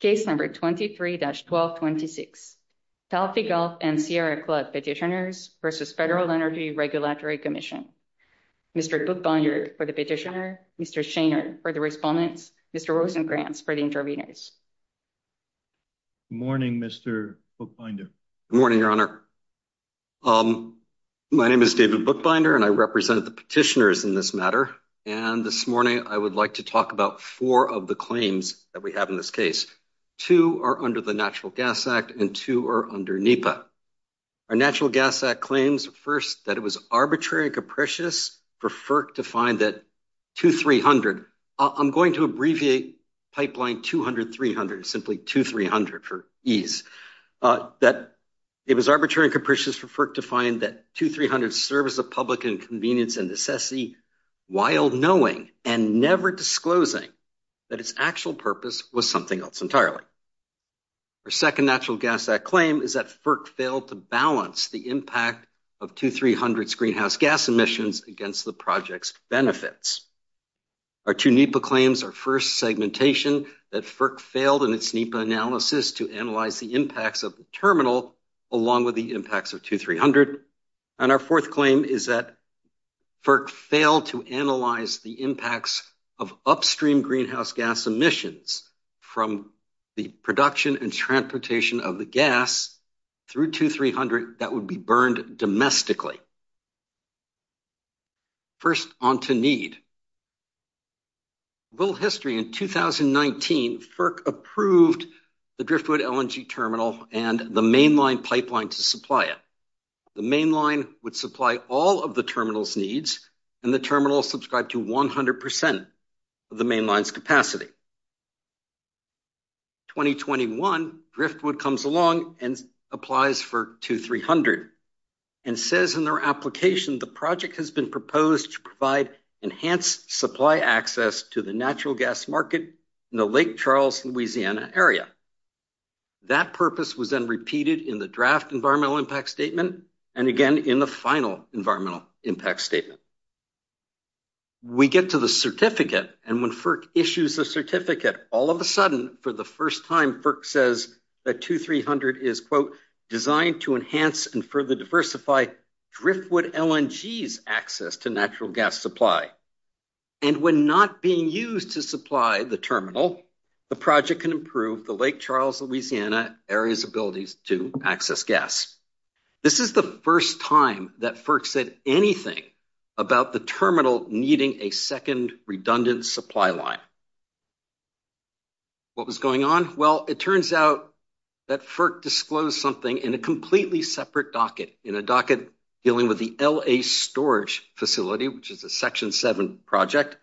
case number 23-1226. Talfi Gulf and Sierra Club petitioners versus Federal Energy Regulatory Commission. Mr. Buchbinder for the petitioner, Mr. Shainer for the respondents, Mr. Rosenkranz for the interveners. Good morning Mr. Buchbinder. Good morning your honor. My name is David Buchbinder and I represent the petitioners in this matter and this morning I would like to talk about four of the claims that we have in this case. Two are under the Natural Gas Act and two are under NEPA. Our Natural Gas Act claims first that it was arbitrary and capricious for FERC to find that 2300, I'm going to abbreviate pipeline 200-300 simply 2300 for ease, that it was arbitrary and capricious for FERC to find that 2300 serves the public in convenience and necessity while knowing and never disclosing that its actual purpose was something else entirely. Our second Natural Gas Act claim is that FERC failed to balance the impact of 2300 greenhouse gas emissions against the project's benefits. Our two NEPA claims, our first segmentation that FERC failed in its NEPA analysis to analyze the impacts of the terminal along with the impacts of 2300. And our fourth claim is that FERC failed to analyze the impacts of upstream greenhouse gas emissions from the production and transportation of the gas through 2300 that would be burned domestically. First on to need. A little history in 2019, FERC approved the Driftwood LNG terminal and the mainline pipeline to supply it. The mainline would supply all of the terminal's needs and the terminal subscribed to 100% of the mainline's capacity. 2021, Driftwood comes along and applies for 2300 and says in their application the project has been proposed to provide enhanced supply access to the natural gas market in the Lake Charles, Louisiana area. That purpose was then repeated in the draft environmental impact statement and again in the final environmental impact statement. We get to the certificate and when FERC issues a certificate all of a sudden for the first time FERC says that 2300 is quote designed to enhance and further diversify Driftwood LNG's access to natural gas supply. And when not being used to supply the terminal the project can improve the Lake Charles, Louisiana area's abilities to access gas. This is the first time that FERC said anything about the terminal needing a second redundant supply line. What was going on? Well it turns out that FERC disclosed something in a completely separate docket. In a docket dealing with the LA storage facility which is a section 7 project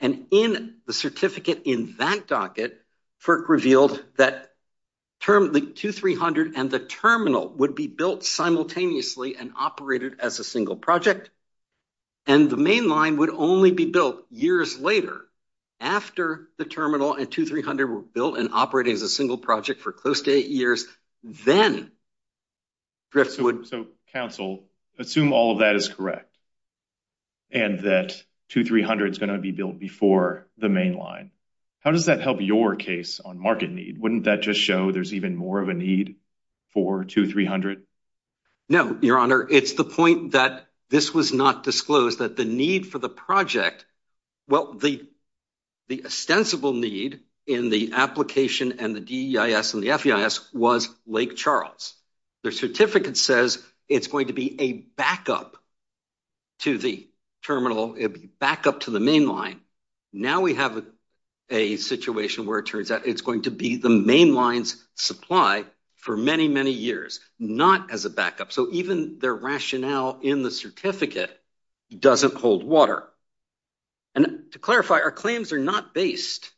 and in the certificate in that docket FERC revealed that term the 2300 and the terminal would be built simultaneously and operated as a single project and the main line would only be built years later after the terminal and 2300 were built and operating as a single project for close to eight years then Driftwood. So council assume all of that is correct and that 2300 is going to be built before the main line. How does that help your case on market need? Wouldn't that just show there's even more of a need for 2300? No your honor it's the point that this was not disclosed that the need for the project well the the ostensible need in the application and the DEIS and the FEIS was Lake Charles. The certificate says it's going to be a backup to the terminal it'll be back up to the main line. Now we have a situation where it turns out it's going to be the main lines supply for many many years not as a backup so even their rationale in the certificate doesn't hold water and to clarify our claims are not based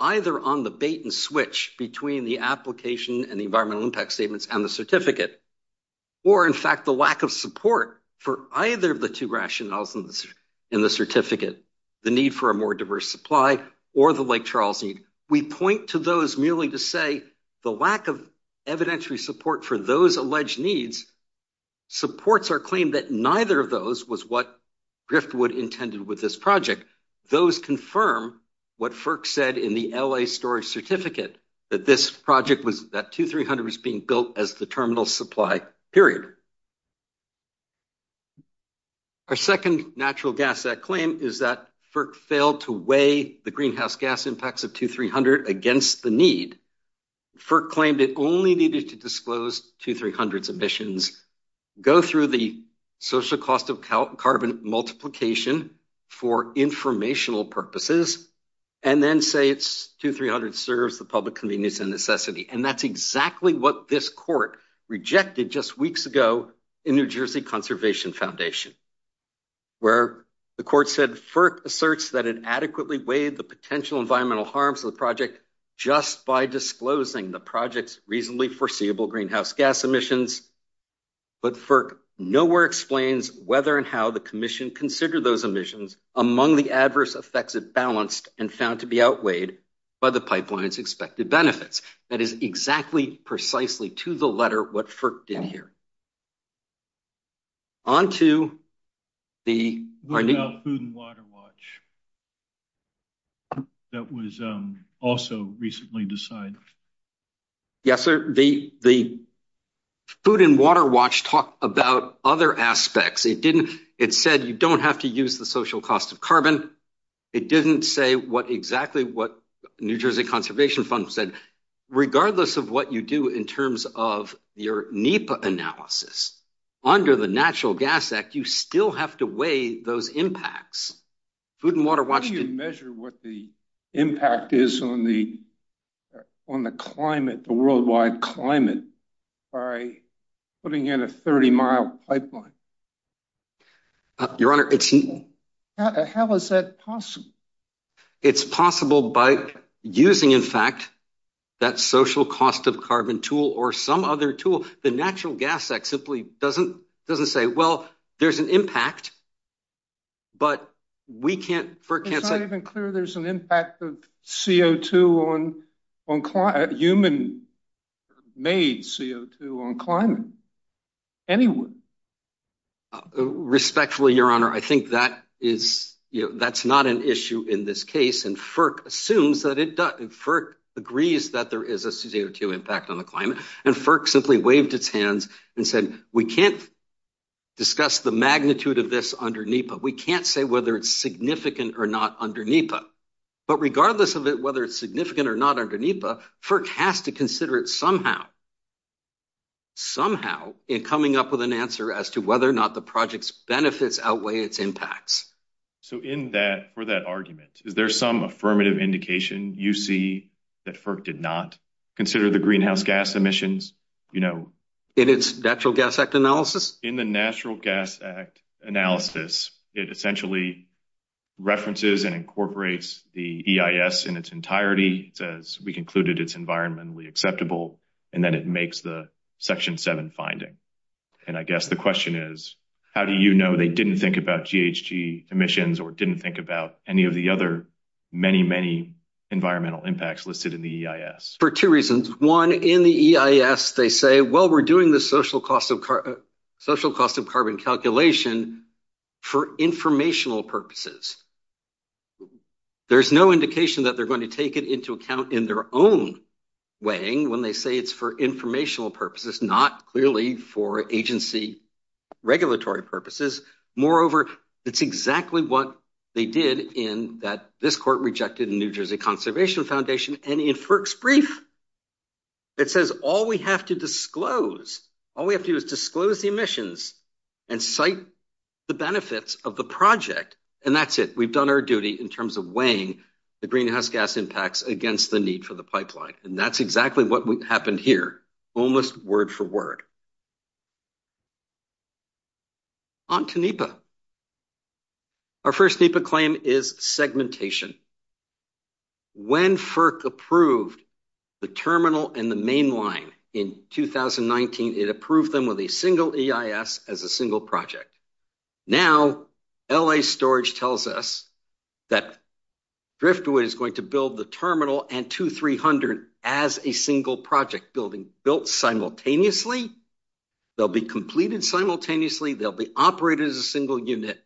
either on the bait-and-switch between the application and the environmental impact statements and the certificate or in fact the lack of support for either of the two rationales in this in the certificate the need for a more diverse supply or the Lake Charles need. We point to those merely to say the lack of evidentiary support for those alleged needs supports our claim that neither of those was what Driftwood intended with this project. Those confirm what FERC said in the LA storage certificate that this project was that 2300 was being built as the terminal supply period. Our second natural gas that claim is that FERC failed to weigh the greenhouse gas impacts of 2300 against the need. FERC claimed it only needed to disclose 2300 submissions go through the social cost of carbon multiplication for informational purposes and then say it's 2300 serves the public convenience and necessity and that's exactly what this court rejected just weeks ago in New Jersey Conservation Foundation where the court said FERC asserts that it adequately weighed the potential environmental harms of the project just by disclosing the project's reasonably foreseeable greenhouse gas emissions but FERC nowhere explains whether and how the Commission considered those emissions among the adverse effects it balanced and found to be outweighed by the pipelines expected benefits. That is exactly precisely to the letter what FERC did here. On to the food and water watch that was also recently decided. Yes sir the the food and water watch talked about other aspects it didn't it said you don't have to use the social cost of carbon it didn't say what exactly what New Jersey Conservation Fund said regardless of what you do in terms of your NEPA analysis under the Natural Gas Act you still have to weigh those impacts. Food and water watch... How do you measure what the impact is on the on the climate the worldwide climate by putting in a 30 mile pipeline? Your honor it's How is that possible? It's possible by using in fact that social cost of carbon tool or some other tool the Natural Gas Act simply doesn't doesn't say well there's an impact but we can't FERC can't say... It's not even clear there's an impact of CO2 on climate human made CO2 on climate. Anyone? Respectfully your honor I think that is you know that's not an issue in this case and FERC assumes that it does and FERC agrees that there is a CO2 impact on the climate and FERC simply waved its hands and said we can't discuss the magnitude of this under NEPA we can't say whether it's significant or not under NEPA but regardless of it whether it's significant or not under NEPA FERC has to consider it somehow somehow in coming up with an answer as to whether or not the project's benefits outweigh its impacts. So in that for that argument is there some affirmative indication you see that FERC did not consider the greenhouse gas emissions you know? In its Natural Gas Act analysis? In the Natural Gas Act analysis it essentially references and incorporates the EIS in its entirety says we concluded it's environmentally acceptable and then it makes the section 7 finding and I guess the question is how do you know they didn't think about GHG emissions or didn't think about any of the other many many environmental impacts listed in the EIS? For two reasons one in the EIS they say well we're doing the social cost of social cost of carbon calculation for informational purposes. There's no indication that they're going to take it into account in their own weighing when they say it's for informational purposes not clearly for agency regulatory purposes moreover it's exactly what they did in that this court rejected in New Jersey Conservation Foundation and in FERC's brief it says all we have to disclose all we have to do is disclose the emissions and cite the benefits of the project and that's it we've done our duty in terms of weighing the greenhouse gas impacts against the need for the pipeline and that's exactly what happened here almost word-for-word on to NEPA. Our first NEPA claim is segmentation. When FERC approved the terminal and the main line in 2019 it approved them with a single EIS as a single project. Now LA Storage tells us that Driftwood is going to build the terminal and 2300 as a single project building built simultaneously they'll be completed simultaneously they'll be operated as a single unit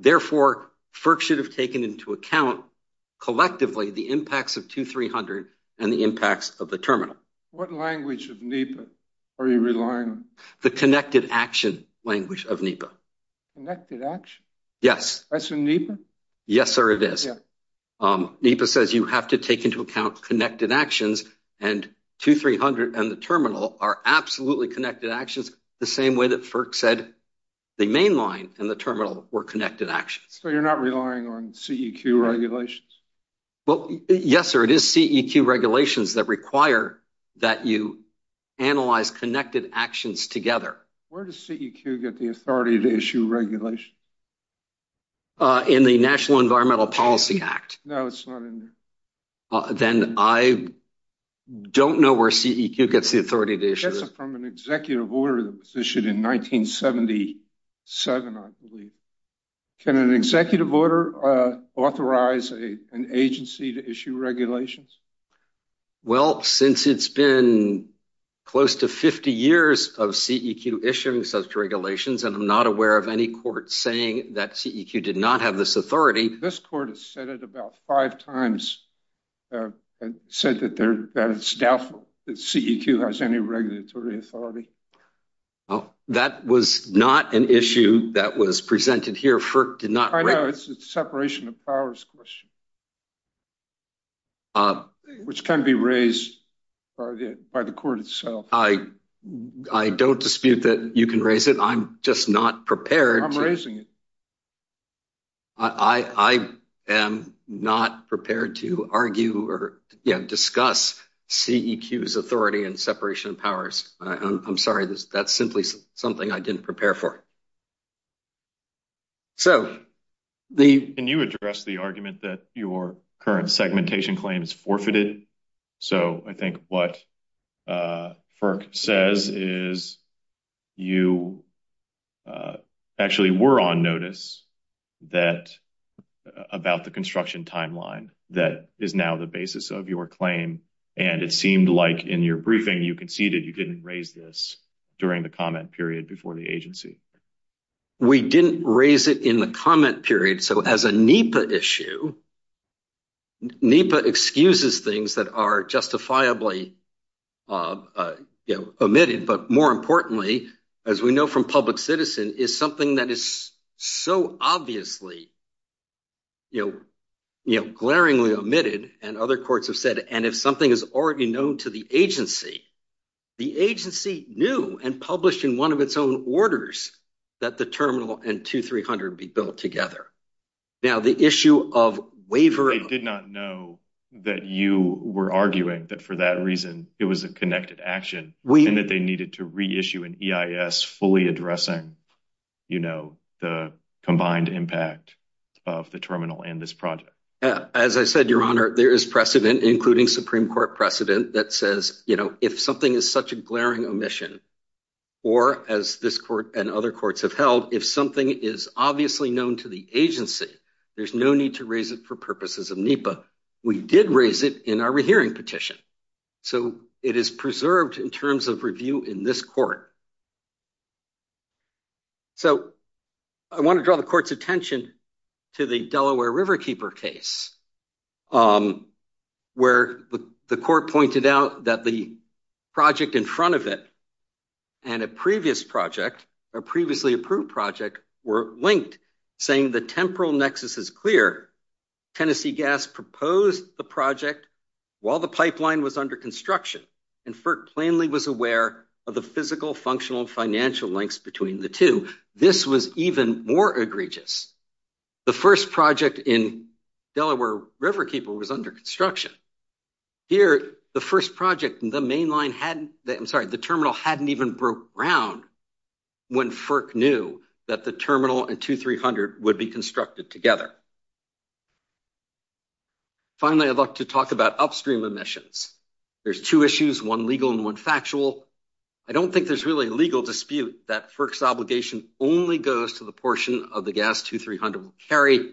therefore FERC should have taken into account collectively the impacts of 2300 and the impacts of the terminal. What language of NEPA are you relying on? The connected action language of NEPA. Connected action? Yes. That's in NEPA? Yes sir it is. NEPA says you have to take into account connected actions and 2300 and the terminal are absolutely connected actions the same way that FERC said the main line and the terminal were connected actions. So you're not relying on CEQ regulations? Well yes sir it is CEQ regulations that require that you analyze connected actions together. Where does CEQ get the authority to issue regulation? In the National Environmental Policy Act. No it's not in there. Then I don't know where CEQ gets the authority to issue it. That's from an executive order that was issued in 1977 I believe. Can an executive order authorize a an agency to issue regulations? Well since it's been close to 50 years of CEQ issuing such regulations and I'm not aware of any court saying that CEQ did not have this authority. This court has said it about That was not an issue that was presented here. FERC did not. I know it's a separation of powers question which can be raised by the court itself. I don't dispute that you can raise it I'm just not prepared. I'm raising it. I am not prepared to argue or discuss CEQ's authority and separation of powers. I'm sorry that's simply something I didn't prepare for. Can you address the argument that your current segmentation claim is forfeited? So I think what FERC says is you actually were on notice that about the construction timeline that is now the basis of your claim and it seemed like in your briefing you conceded you didn't raise this during the comment period before the agency. We didn't raise it in the comment period so as a NEPA issue NEPA excuses things that are justifiably omitted but more importantly as we know from public citizen is something that is so obviously you know glaringly omitted and other courts have said and if something is already known to the agency the agency knew and published in one of its own orders that the terminal and 2-300 be built together. Now the issue of waiver. I did not know that you were arguing that for that reason it was a connected action and that they needed to reissue an EIS fully addressing you know the combined impact of the terminal and this project. As I said your honor there is precedent including Supreme Court precedent that says you know if something is such a glaring omission or as this court and other courts have held if something is obviously known to the agency there's no need to raise it for purposes of NEPA. We did raise it in our rehearing petition so it is preserved in terms of review in this court. So I want to draw the court's attention to the Delaware Riverkeeper case where the court pointed out that the project in front of it and a previous project a previously approved project were linked saying the temporal nexus is clear Tennessee Gas proposed the project while the pipeline was under construction and FERC plainly was aware of the physical functional financial links between the two. This was even more egregious. The first project in Delaware Riverkeeper was under construction. Here the first project and the main line hadn't I'm sorry the terminal hadn't even broke ground when FERC knew that the terminal and 2-300 would be constructed together. Finally I'd like to talk about upstream emissions. There's two issues one legal and one factual. I don't think there's really a legal dispute that FERC's obligation only goes to the portion of the gas 2-300 will carry.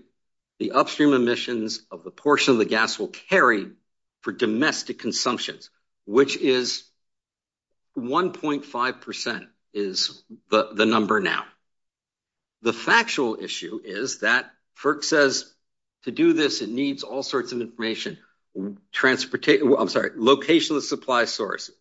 The upstream emissions of the portion of the gas will carry for domestic consumptions which is 1.5 percent is the the number now. The factual issue is that FERC says to do this it needs all sorts of information transportation I'm sorry location of supply source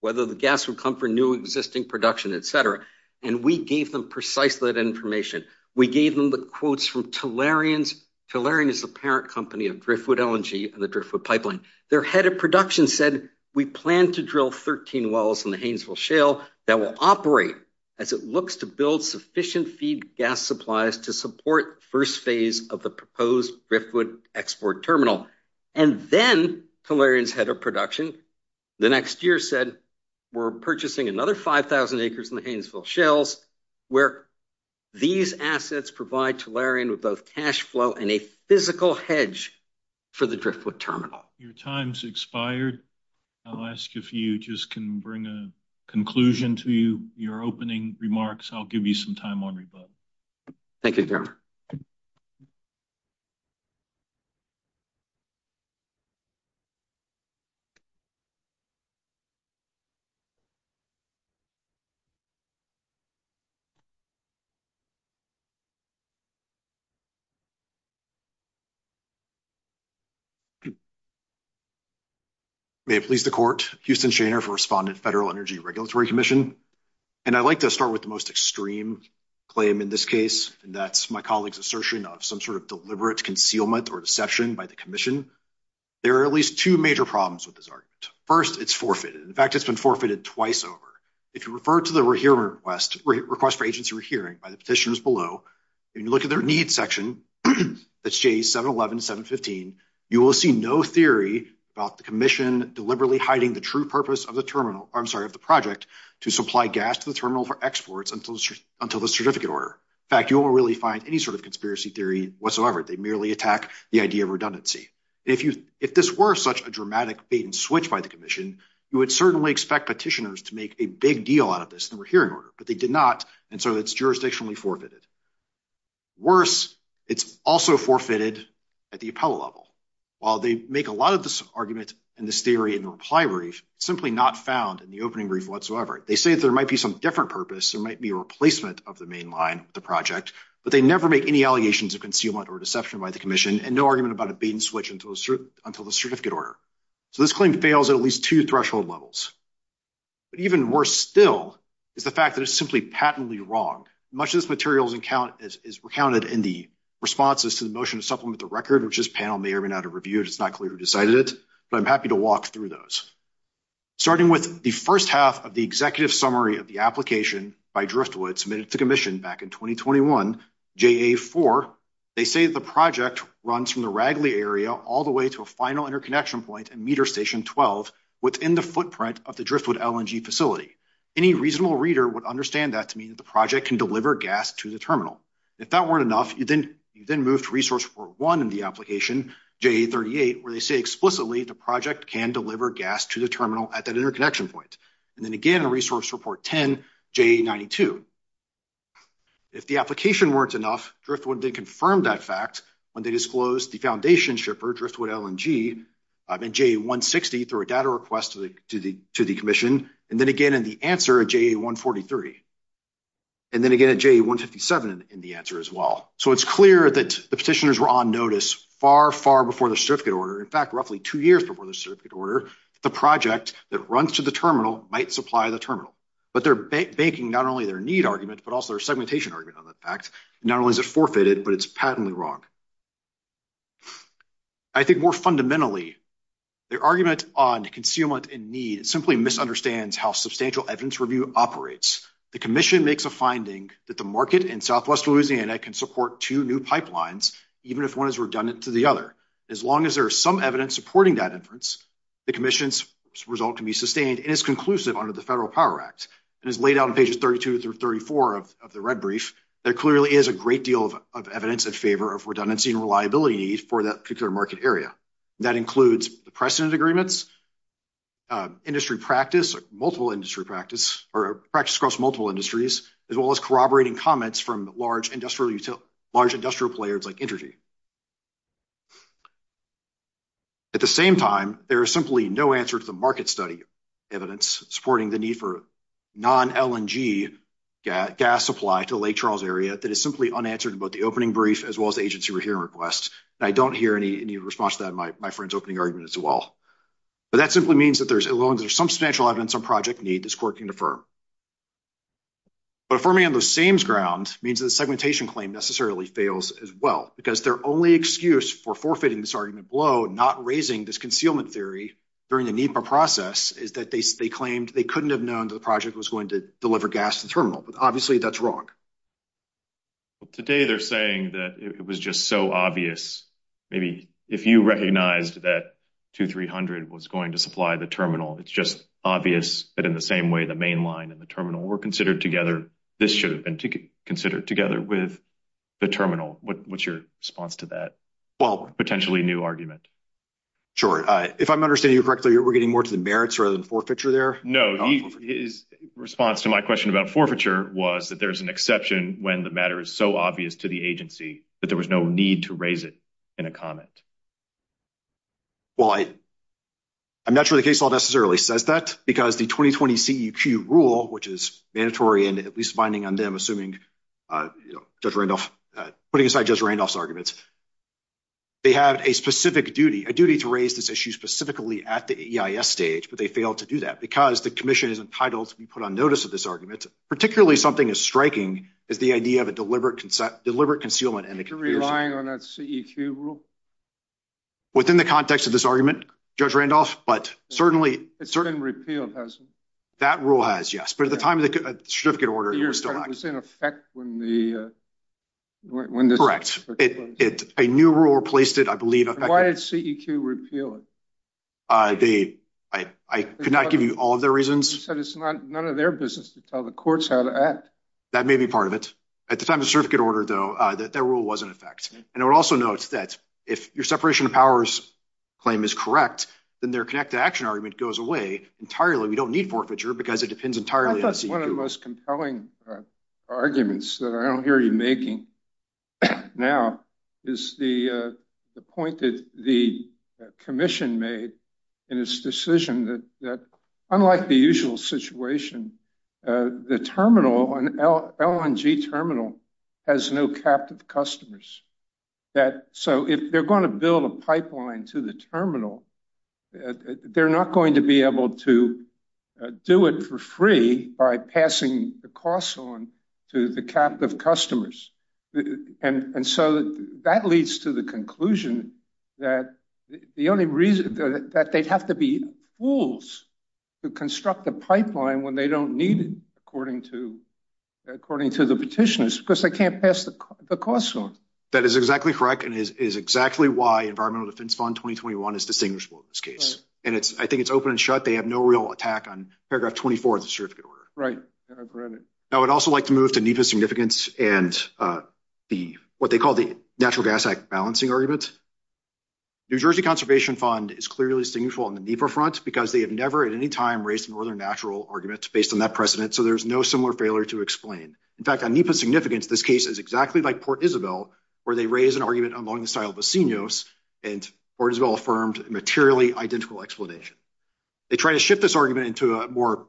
whether the gas would come for new existing production etc and we gave them precisely that information. We gave them the quotes from Tellurian's Tellurian is the parent company of Driftwood LNG and the Driftwood pipeline their head of production said we plan to drill 13 wells in the Hainesville shale that will operate as it looks to build sufficient feed gas supplies to support first phase of the proposed Driftwood export terminal and then Tellurian's head of production the next year said we're purchasing another 5,000 acres in the Hainesville shales where these assets provide Tellurian with cash flow and a physical hedge for the Driftwood terminal. Your time's expired I'll ask if you just can bring a conclusion to you your opening remarks I'll give you some time on rebut. Thank you. May it please the court. Houston Shaner for Respondent Federal Energy Regulatory Commission and I'd like to start with the most extreme claim in this case and that's my colleagues assertion of some sort of deliberate concealment or deception by the Commission. There are at least two major problems with this argument. First it's forfeited in fact it's been forfeited twice over. If you refer to the request for agency rehearing by the section that's J 711 715 you will see no theory about the Commission deliberately hiding the true purpose of the terminal I'm sorry of the project to supply gas to the terminal for exports until until the certificate order. In fact you won't really find any sort of conspiracy theory whatsoever they merely attack the idea of redundancy. If you if this were such a dramatic bait-and-switch by the Commission you would certainly expect petitioners to make a big deal out of this and we're hearing order but they did not and so it's jurisdictionally forfeited. Worse it's also forfeited at the appellate level. While they make a lot of this argument and this theory in the reply brief simply not found in the opening brief whatsoever. They say that there might be some different purpose there might be a replacement of the main line the project but they never make any allegations of concealment or deception by the Commission and no argument about a bait-and-switch until the certificate order. So this claim fails at at least two threshold levels. But even worse still is the fact that it's simply patently wrong. Much of this materials account is recounted in the responses to the motion to supplement the record which this panel may or may not have reviewed it's not clear who decided it but I'm happy to walk through those. Starting with the first half of the executive summary of the application by Driftwood submitted to Commission back in 2021 JA4 they say the project runs from the Ragley area all the way to a final interconnection point and meter station 12 within the footprint of the Driftwood LNG facility. Any reasonable reader would understand that to mean that the project can deliver gas to the terminal. If that weren't enough you then you then move to Resource Report 1 in the application JA38 where they say explicitly the project can deliver gas to the terminal at that interconnection point. And then again in Resource Report 10 JA92. If the application weren't enough Driftwood did confirm that fact when they disclosed the foundation shipper Driftwood LNG in JA160 through a request to the to the to the Commission and then again in the answer at JA143 and then again at JA157 in the answer as well. So it's clear that the petitioners were on notice far far before the certificate order in fact roughly two years before the certificate order the project that runs to the terminal might supply the terminal. But they're banking not only their need argument but also their segmentation argument on that fact. Not only is it forfeited but it's patently wrong. I think more fundamentally their argument on concealment and need simply misunderstands how substantial evidence review operates. The Commission makes a finding that the market in southwest Louisiana can support two new pipelines even if one is redundant to the other. As long as there are some evidence supporting that inference the Commission's result can be sustained and is conclusive under the Federal Power Act and is laid out in pages 32 through 34 of the red brief. There clearly is a great deal of evidence in favor of redundancy and reliability need for that particular market area. That includes precedent agreements, industry practice, multiple industry practice or practice across multiple industries as well as corroborating comments from large industrial players like Intergy. At the same time there is simply no answer to the market study evidence supporting the need for non LNG gas supply to Lake Charles area that is simply unanswered about the opening brief as well as the agency we're hearing requests. I don't hear any response to that in my friend's opening argument as well. But that simply means that as long as there's some substantial evidence on project need this court can affirm. But affirming on the same ground means that the segmentation claim necessarily fails as well because their only excuse for forfeiting this argument below not raising this concealment theory during the NEPA process is that they claimed they couldn't have known that the project was going to deliver gas to the terminal but obviously that's wrong. Well today they're saying that it was just so obvious maybe if you recognized that 2300 was going to supply the terminal it's just obvious that in the same way the main line and the terminal were considered together this should have been considered together with the terminal. What's your response to that well potentially new argument? Sure if I'm understanding correctly we're getting more to the merits rather than forfeiture there? No his response to my question about forfeiture was that there's an exception when the matter is so obvious to the agency that there was no need to raise it in a comment. Well I I'm not sure the case law necessarily says that because the 2020 CEQ rule which is mandatory and at least binding on them assuming Judge Randolph putting aside Judge Randolph's arguments they have a specific duty a duty to raise this issue specifically at the EIS stage but they failed to do that because the Commission is entitled to be put on notice of this argument particularly something is striking is the idea of a deliberate concept deliberate concealment and the relying on that CEQ rule within the context of this argument Judge Randolph but certainly it's certain repealed hasn't that rule has yes but at the time of the certificate order you're still not in effect when the when the correct it's a new rule replaced it I believe why did CEQ repeal it they I could not give you all of their reasons none of their business to tell the courts how to act that may be part of it at the time the certificate order though that that rule was in effect and it also notes that if your separation of powers claim is correct then their connect to action argument goes away entirely we don't need forfeiture because it depends entirely on the most compelling arguments that I don't hear you making now is the point that the Commission made in its decision that unlike the usual situation the terminal on LNG terminal has no captive customers that so if they're going to build a pipeline to the terminal they're not going to be able to do it for free by passing the costs on to the captive customers and and so that leads to the conclusion that the only reason that they'd have to be fools to construct a pipeline when they don't need it according to according to the petitioners because they can't pass the costs on that is exactly correct and is exactly why environmental defense fund 2021 is distinguishable in this case and it's I think it's open and shut they have no real attack on paragraph 24 of the certificate order right now I would also like to move to NEPA significance and the what they call the natural gas balancing argument New Jersey Conservation Fund is clearly significant on the NEPA front because they have never at any time raised northern natural arguments based on that precedent so there's no similar failure to explain in fact on NEPA significance this case is exactly like Port Isabel where they raise an argument among the style of a seniors and or as well affirmed materially identical explanation they try to shift this argument into a more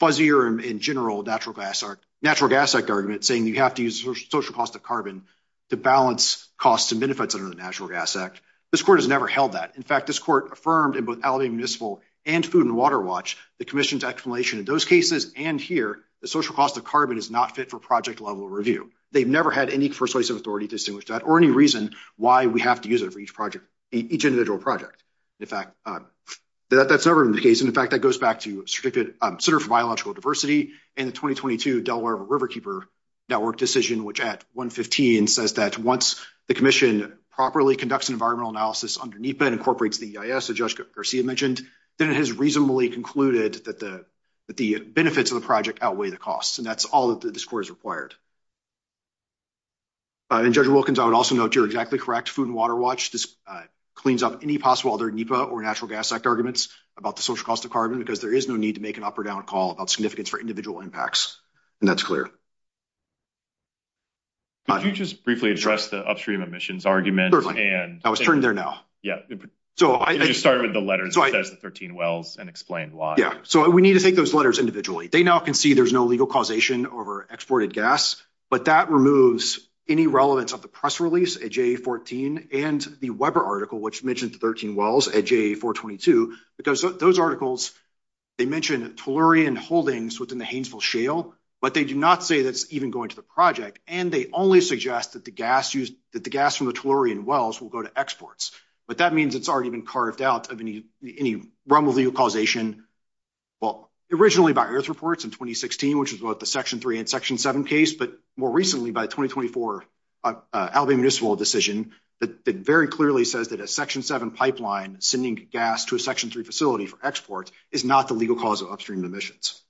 fuzzier in general natural gas or natural gas like argument saying you have to use social cost of carbon to balance costs and benefits under the National Gas Act this court has never held that in fact this court affirmed in both Alabama municipal and food and water watch the Commission's explanation in those cases and here the social cost of carbon is not fit for project level review they've never had any persuasive authority distinguished that or any reason why we have to use it for each project each individual project in fact that's never in the case and in fact that goes back to biological diversity and the 2022 Delaware Riverkeeper network decision which at 115 says that once the Commission properly conducts an environmental analysis underneath bed incorporates the is a judge Garcia mentioned then it has reasonably concluded that the the benefits of the project outweigh the costs and that's all that this court is required and judge Wilkins I would also note you're exactly correct food and water watch this cleans up any possible other NEPA or Natural Gas Act arguments about the social cost of carbon because there is no need to make an up-or-down call about significance for individual impacts and that's clear but you just briefly address the upstream emissions argument and I was turned there now yeah so I started with the letter so I 13 wells and explained why yeah so we need to take those letters individually they now can see there's no legal causation over exported gas but that removes any relevance of the press release a j14 and the Weber article which mentioned 13 wells at j4 22 because those articles they mentioned tellurian holdings within the Hainesville shale but they do not say that's even going to the project and they only suggest that the gas used that the gas from the tellurian wells will go to exports but that means it's already been carved out of any any rumble legal causation well originally by earth reports in 2016 which is what the section 3 and section 7 case but more recently by 2024 Albany municipal decision that very clearly says that a section 7 pipeline sending gas to a section 3 facility for export is not the legal cause of upstream emissions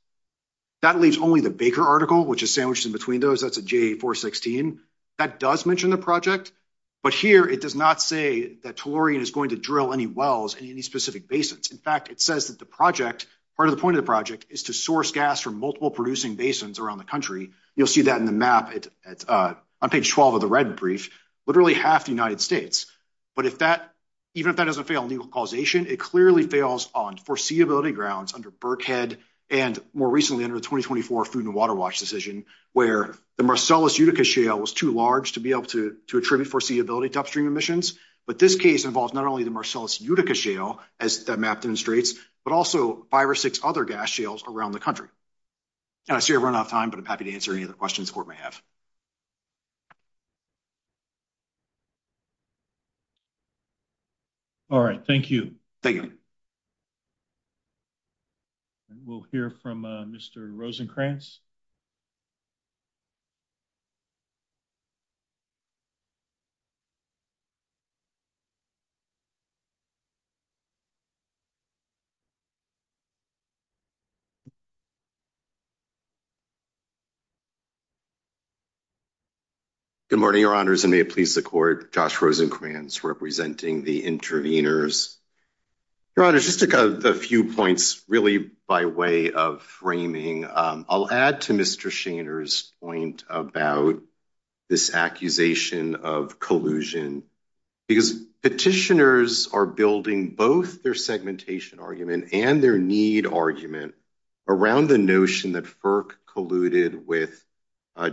that leaves only the Baker article which is sandwiched in between those that's a j4 16 that does mention the project but here it does not say that tellurian is going to drill any wells in any specific basins in fact it says that the project part of the point of the project is to source gas from multiple producing basins around the country you'll see that in the map it's a page 12 of the red brief literally half the United States but if that even if that doesn't fail legal causation it clearly fails on foreseeability grounds under Burkhead and more recently under the 2024 food and water watch decision where the Marcellus Utica shale was too large to be able to to attribute foreseeability to upstream emissions but this case involves not only the Marcellus Utica shale as that map demonstrates but also five or six other gas shales around the country and I see everyone off time but I'm happy to answer any other questions for my half all right thank you thank you and we'll hear from mr. Rosencrantz you good morning your honors and may it please the court Josh Rosencrantz representing the intervenors your honor just took a few points really by way of framing I'll add to mr. Shaner's point about this accusation of collusion because petitioners are building both their segmentation argument and their need argument around the notion that FERC colluded with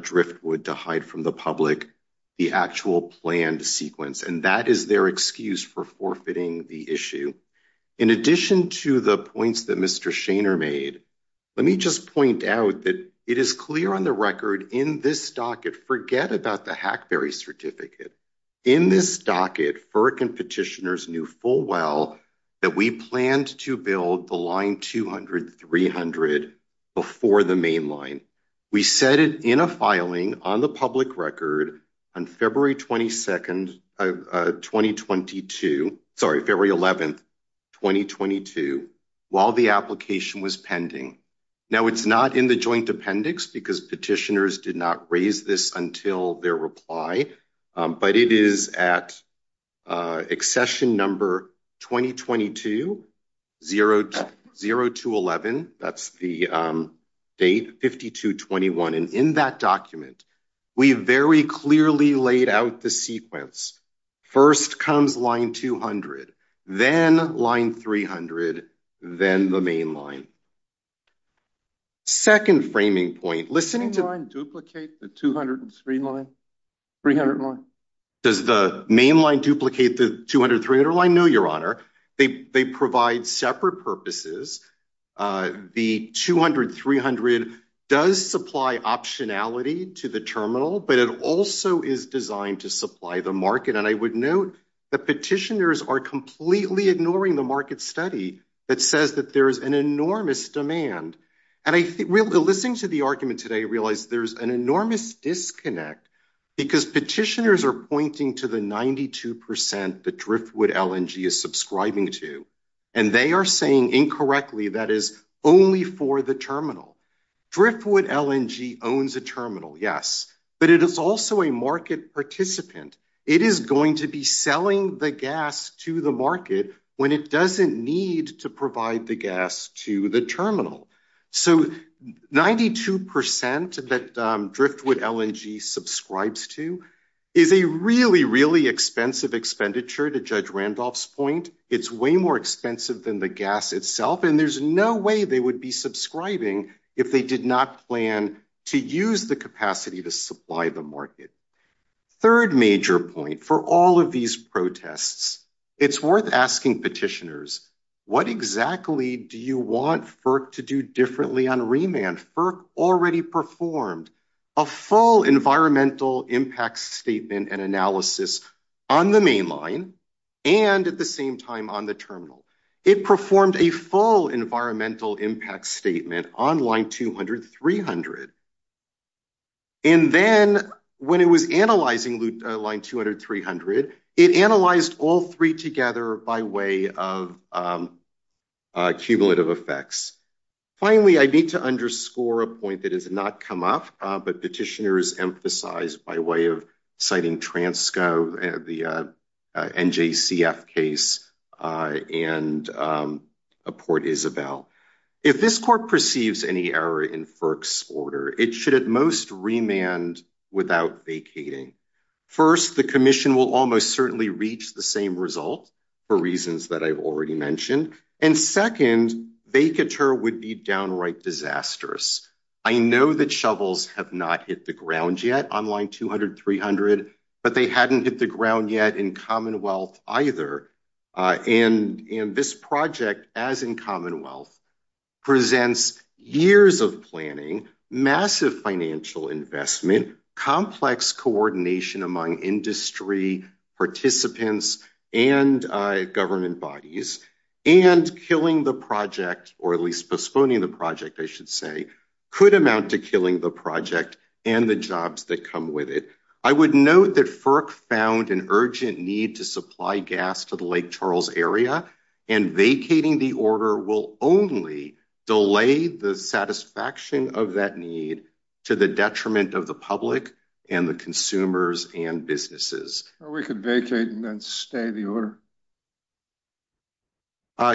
driftwood to hide from the public the actual planned sequence and that is their excuse for fitting the issue in addition to the points that mr. Shaner made let me just point out that it is clear on the record in this docket forget about the Hackberry certificate in this docket FERC and petitioners knew full well that we planned to build the line 200 300 before the main line we set it in a filing on the public record on February 22nd of 2022 sorry February 11th 2022 while the application was pending now it's not in the joint appendix because petitioners did not raise this until their reply but it is at accession number 2022 0 0 to 11 that's the date 52 21 and in that document we very clearly laid out the sequence first comes line 200 then line 300 then the main line second framing point listening to line duplicate the 200 and screen line 300 line does the main line duplicate the 200 300 line no your honor they provide separate purposes the 200 300 does supply optionality to the terminal but it also is designed to supply the market and I would note the petitioners are completely ignoring the market study that says that there is an enormous demand and I think we'll be listening to the argument today realize there's an enormous disconnect because petitioners are pointing to the 92% the driftwood LNG is subscribing to and they are saying incorrectly that is only for the terminal driftwood LNG owns a terminal yes but it is also a market participant it is going to be selling the gas to the market when it doesn't need to provide the gas to the terminal so 92% that driftwood LNG subscribes to is a really expensive expenditure to judge Randolph's point it's way more expensive than the gas itself and there's no way they would be subscribing if they did not plan to use the capacity to supply the market third major point for all of these protests it's worth asking petitioners what exactly do you want FERC to do differently on remand FERC already performed a full environmental impact statement and analysis on the mainline and at the same time on the terminal it performed a full environmental impact statement on line 200 300 and then when it was analyzing line 200 300 it analyzed all three together by way of cumulative effects finally I need to underscore a point that has not come up but petitioners emphasized by way of citing Transco and the NJCF case and a Port Isabel if this court perceives any error in FERC's order it should at most remand without vacating first the Commission will almost certainly reach the same result for reasons that I've already mentioned and second vacatur would be downright disastrous I know that shovels have not hit the ground yet on line 200 300 but they hadn't hit the ground yet in Commonwealth either and in this project as in Commonwealth presents years of planning massive financial investment complex coordination among industry participants and government bodies and killing the project or at least postponing the project I should say could amount to killing the project and the jobs that come with it I would note that FERC found an urgent need to supply gas to the Lake Charles area and vacating the order will only delay the satisfaction of that need to the detriment of the public and the and businesses we could vacate and then stay the order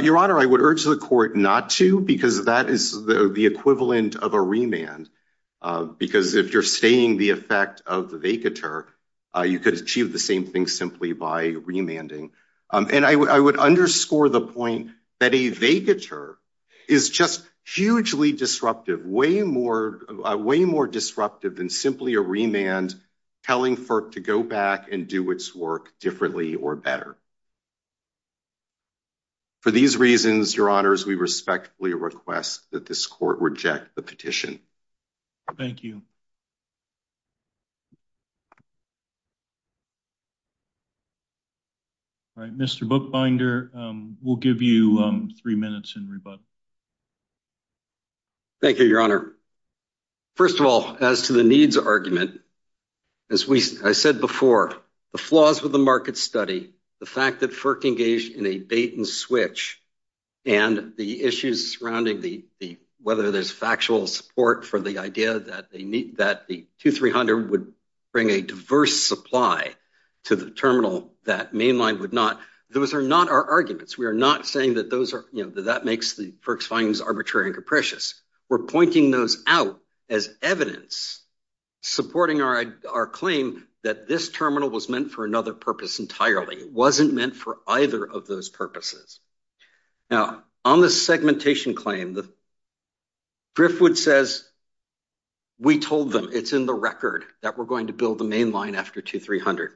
your honor I would urge the court not to because that is the equivalent of a remand because if you're staying the effect of the vacatur you could achieve the same thing simply by remanding and I would underscore the point that a vacatur is just hugely disruptive way more way more disruptive than simply a remand telling FERC to go back and do its work differently or better for these reasons your honors we respectfully request that this court reject the petition thank you all right mr. book binder we'll give you three minutes in rebuttal thank you your honor first of all as to the needs argument as we said before the flaws with the market study the fact that FERC engaged in a bait-and-switch and the issues surrounding the the whether there's factual support for the idea that they meet that the two three hundred would bring a diverse supply to the terminal that mainline would not those are not our arguments we are not saying that those are you know that makes the FERC's findings arbitrary and capricious we're pointing those out as evidence supporting our claim that this terminal was meant for another purpose entirely it wasn't meant for either of those purposes now on the segmentation claim the driftwood says we told them it's in the record that we're going to build the mainline after two three hundred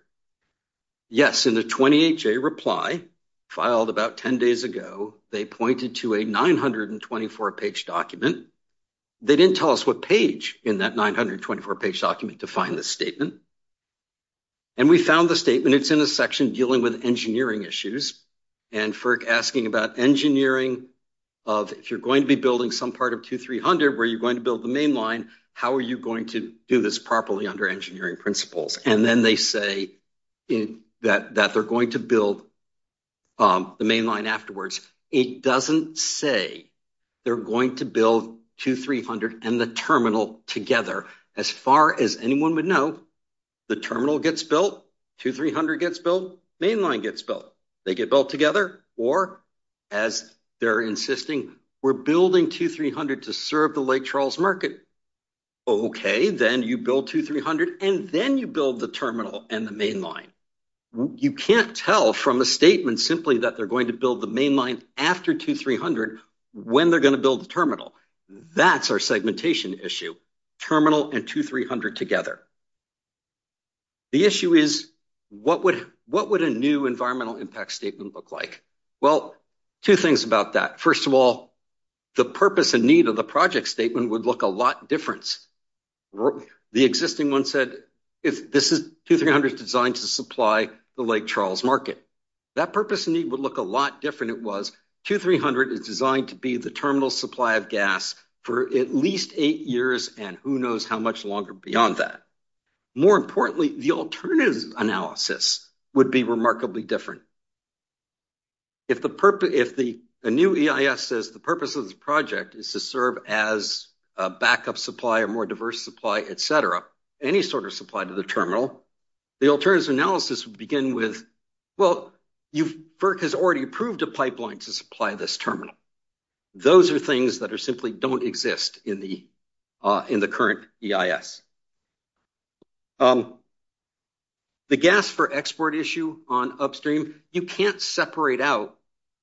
yes in the 28 J reply filed about ten days ago they pointed to a 924 page document they didn't tell us what page in that 924 page document to find this statement and we found the statement it's in a section dealing with engineering issues and FERC asking about engineering of if you're going to be building some part of two three hundred where you're going to build the mainline how are you going to do this properly under engineering principles and then they say in that that they're going to build the mainline afterwards it doesn't say they're going to build two three hundred and the terminal together as far as anyone would know the terminal gets built two three hundred gets built mainline gets built they get built together or as they're insisting we're building two three hundred to serve the Lake Charles market okay then you build two three hundred and then you build the terminal and the mainline you can't tell from a statement simply that they're going to build the mainline after two three hundred when they're going to build the terminal that's our issue terminal and two three hundred together the issue is what would what would a new environmental impact statement look like well two things about that first of all the purpose and need of the project statement would look a lot difference the existing one said if this is two three hundred designed to supply the Lake Charles market that purpose and need would look a lot different it was two three hundred is designed to be the terminal supply of gas for at least eight years and who knows how much longer beyond that more importantly the alternative analysis would be remarkably different if the purpose if the new EIS says the purpose of this project is to serve as a backup supply a more diverse supply etc any sort of supply to the terminal the alternative analysis would begin with well you've worked has already approved a pipeline to supply this terminal those are things that are simply don't exist in the in the current EIS the gas for export issue on upstream you can't separate out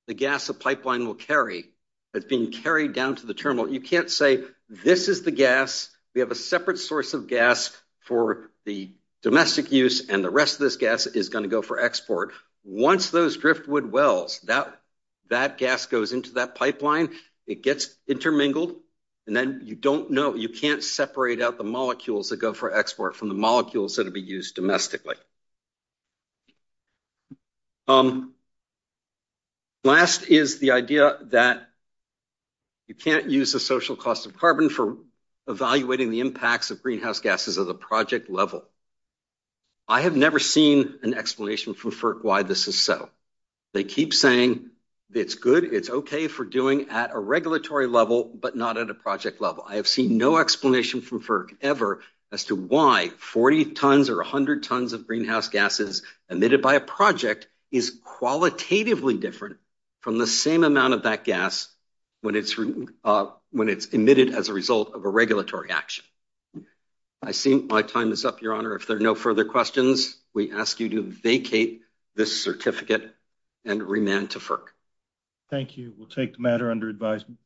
the gas a pipeline will carry that's being carried down to the terminal you can't say this is the gas we have a separate source of gas for the domestic use and the rest of this gas is going to go for export once those driftwood wells that that gas goes into that pipeline it gets intermingled and then you don't know you can't separate out the molecules that go for export from the molecules that will be used domestically last is the idea that you can't use the social cost of carbon for evaluating the impacts of greenhouse gases of the project level I have never seen an explanation from FERC why this is so they keep saying it's good it's okay for doing at a regulatory level but not at a project level I have seen no explanation from FERC ever as to why 40 tons or 100 tons of greenhouse gases emitted by a project is qualitatively different from the same amount of that gas when it's when it's emitted as a result of a regulatory action I see my time is up your honor if there are no questions we ask you to vacate this certificate and remand to FERC thank you we'll take the matter under advisement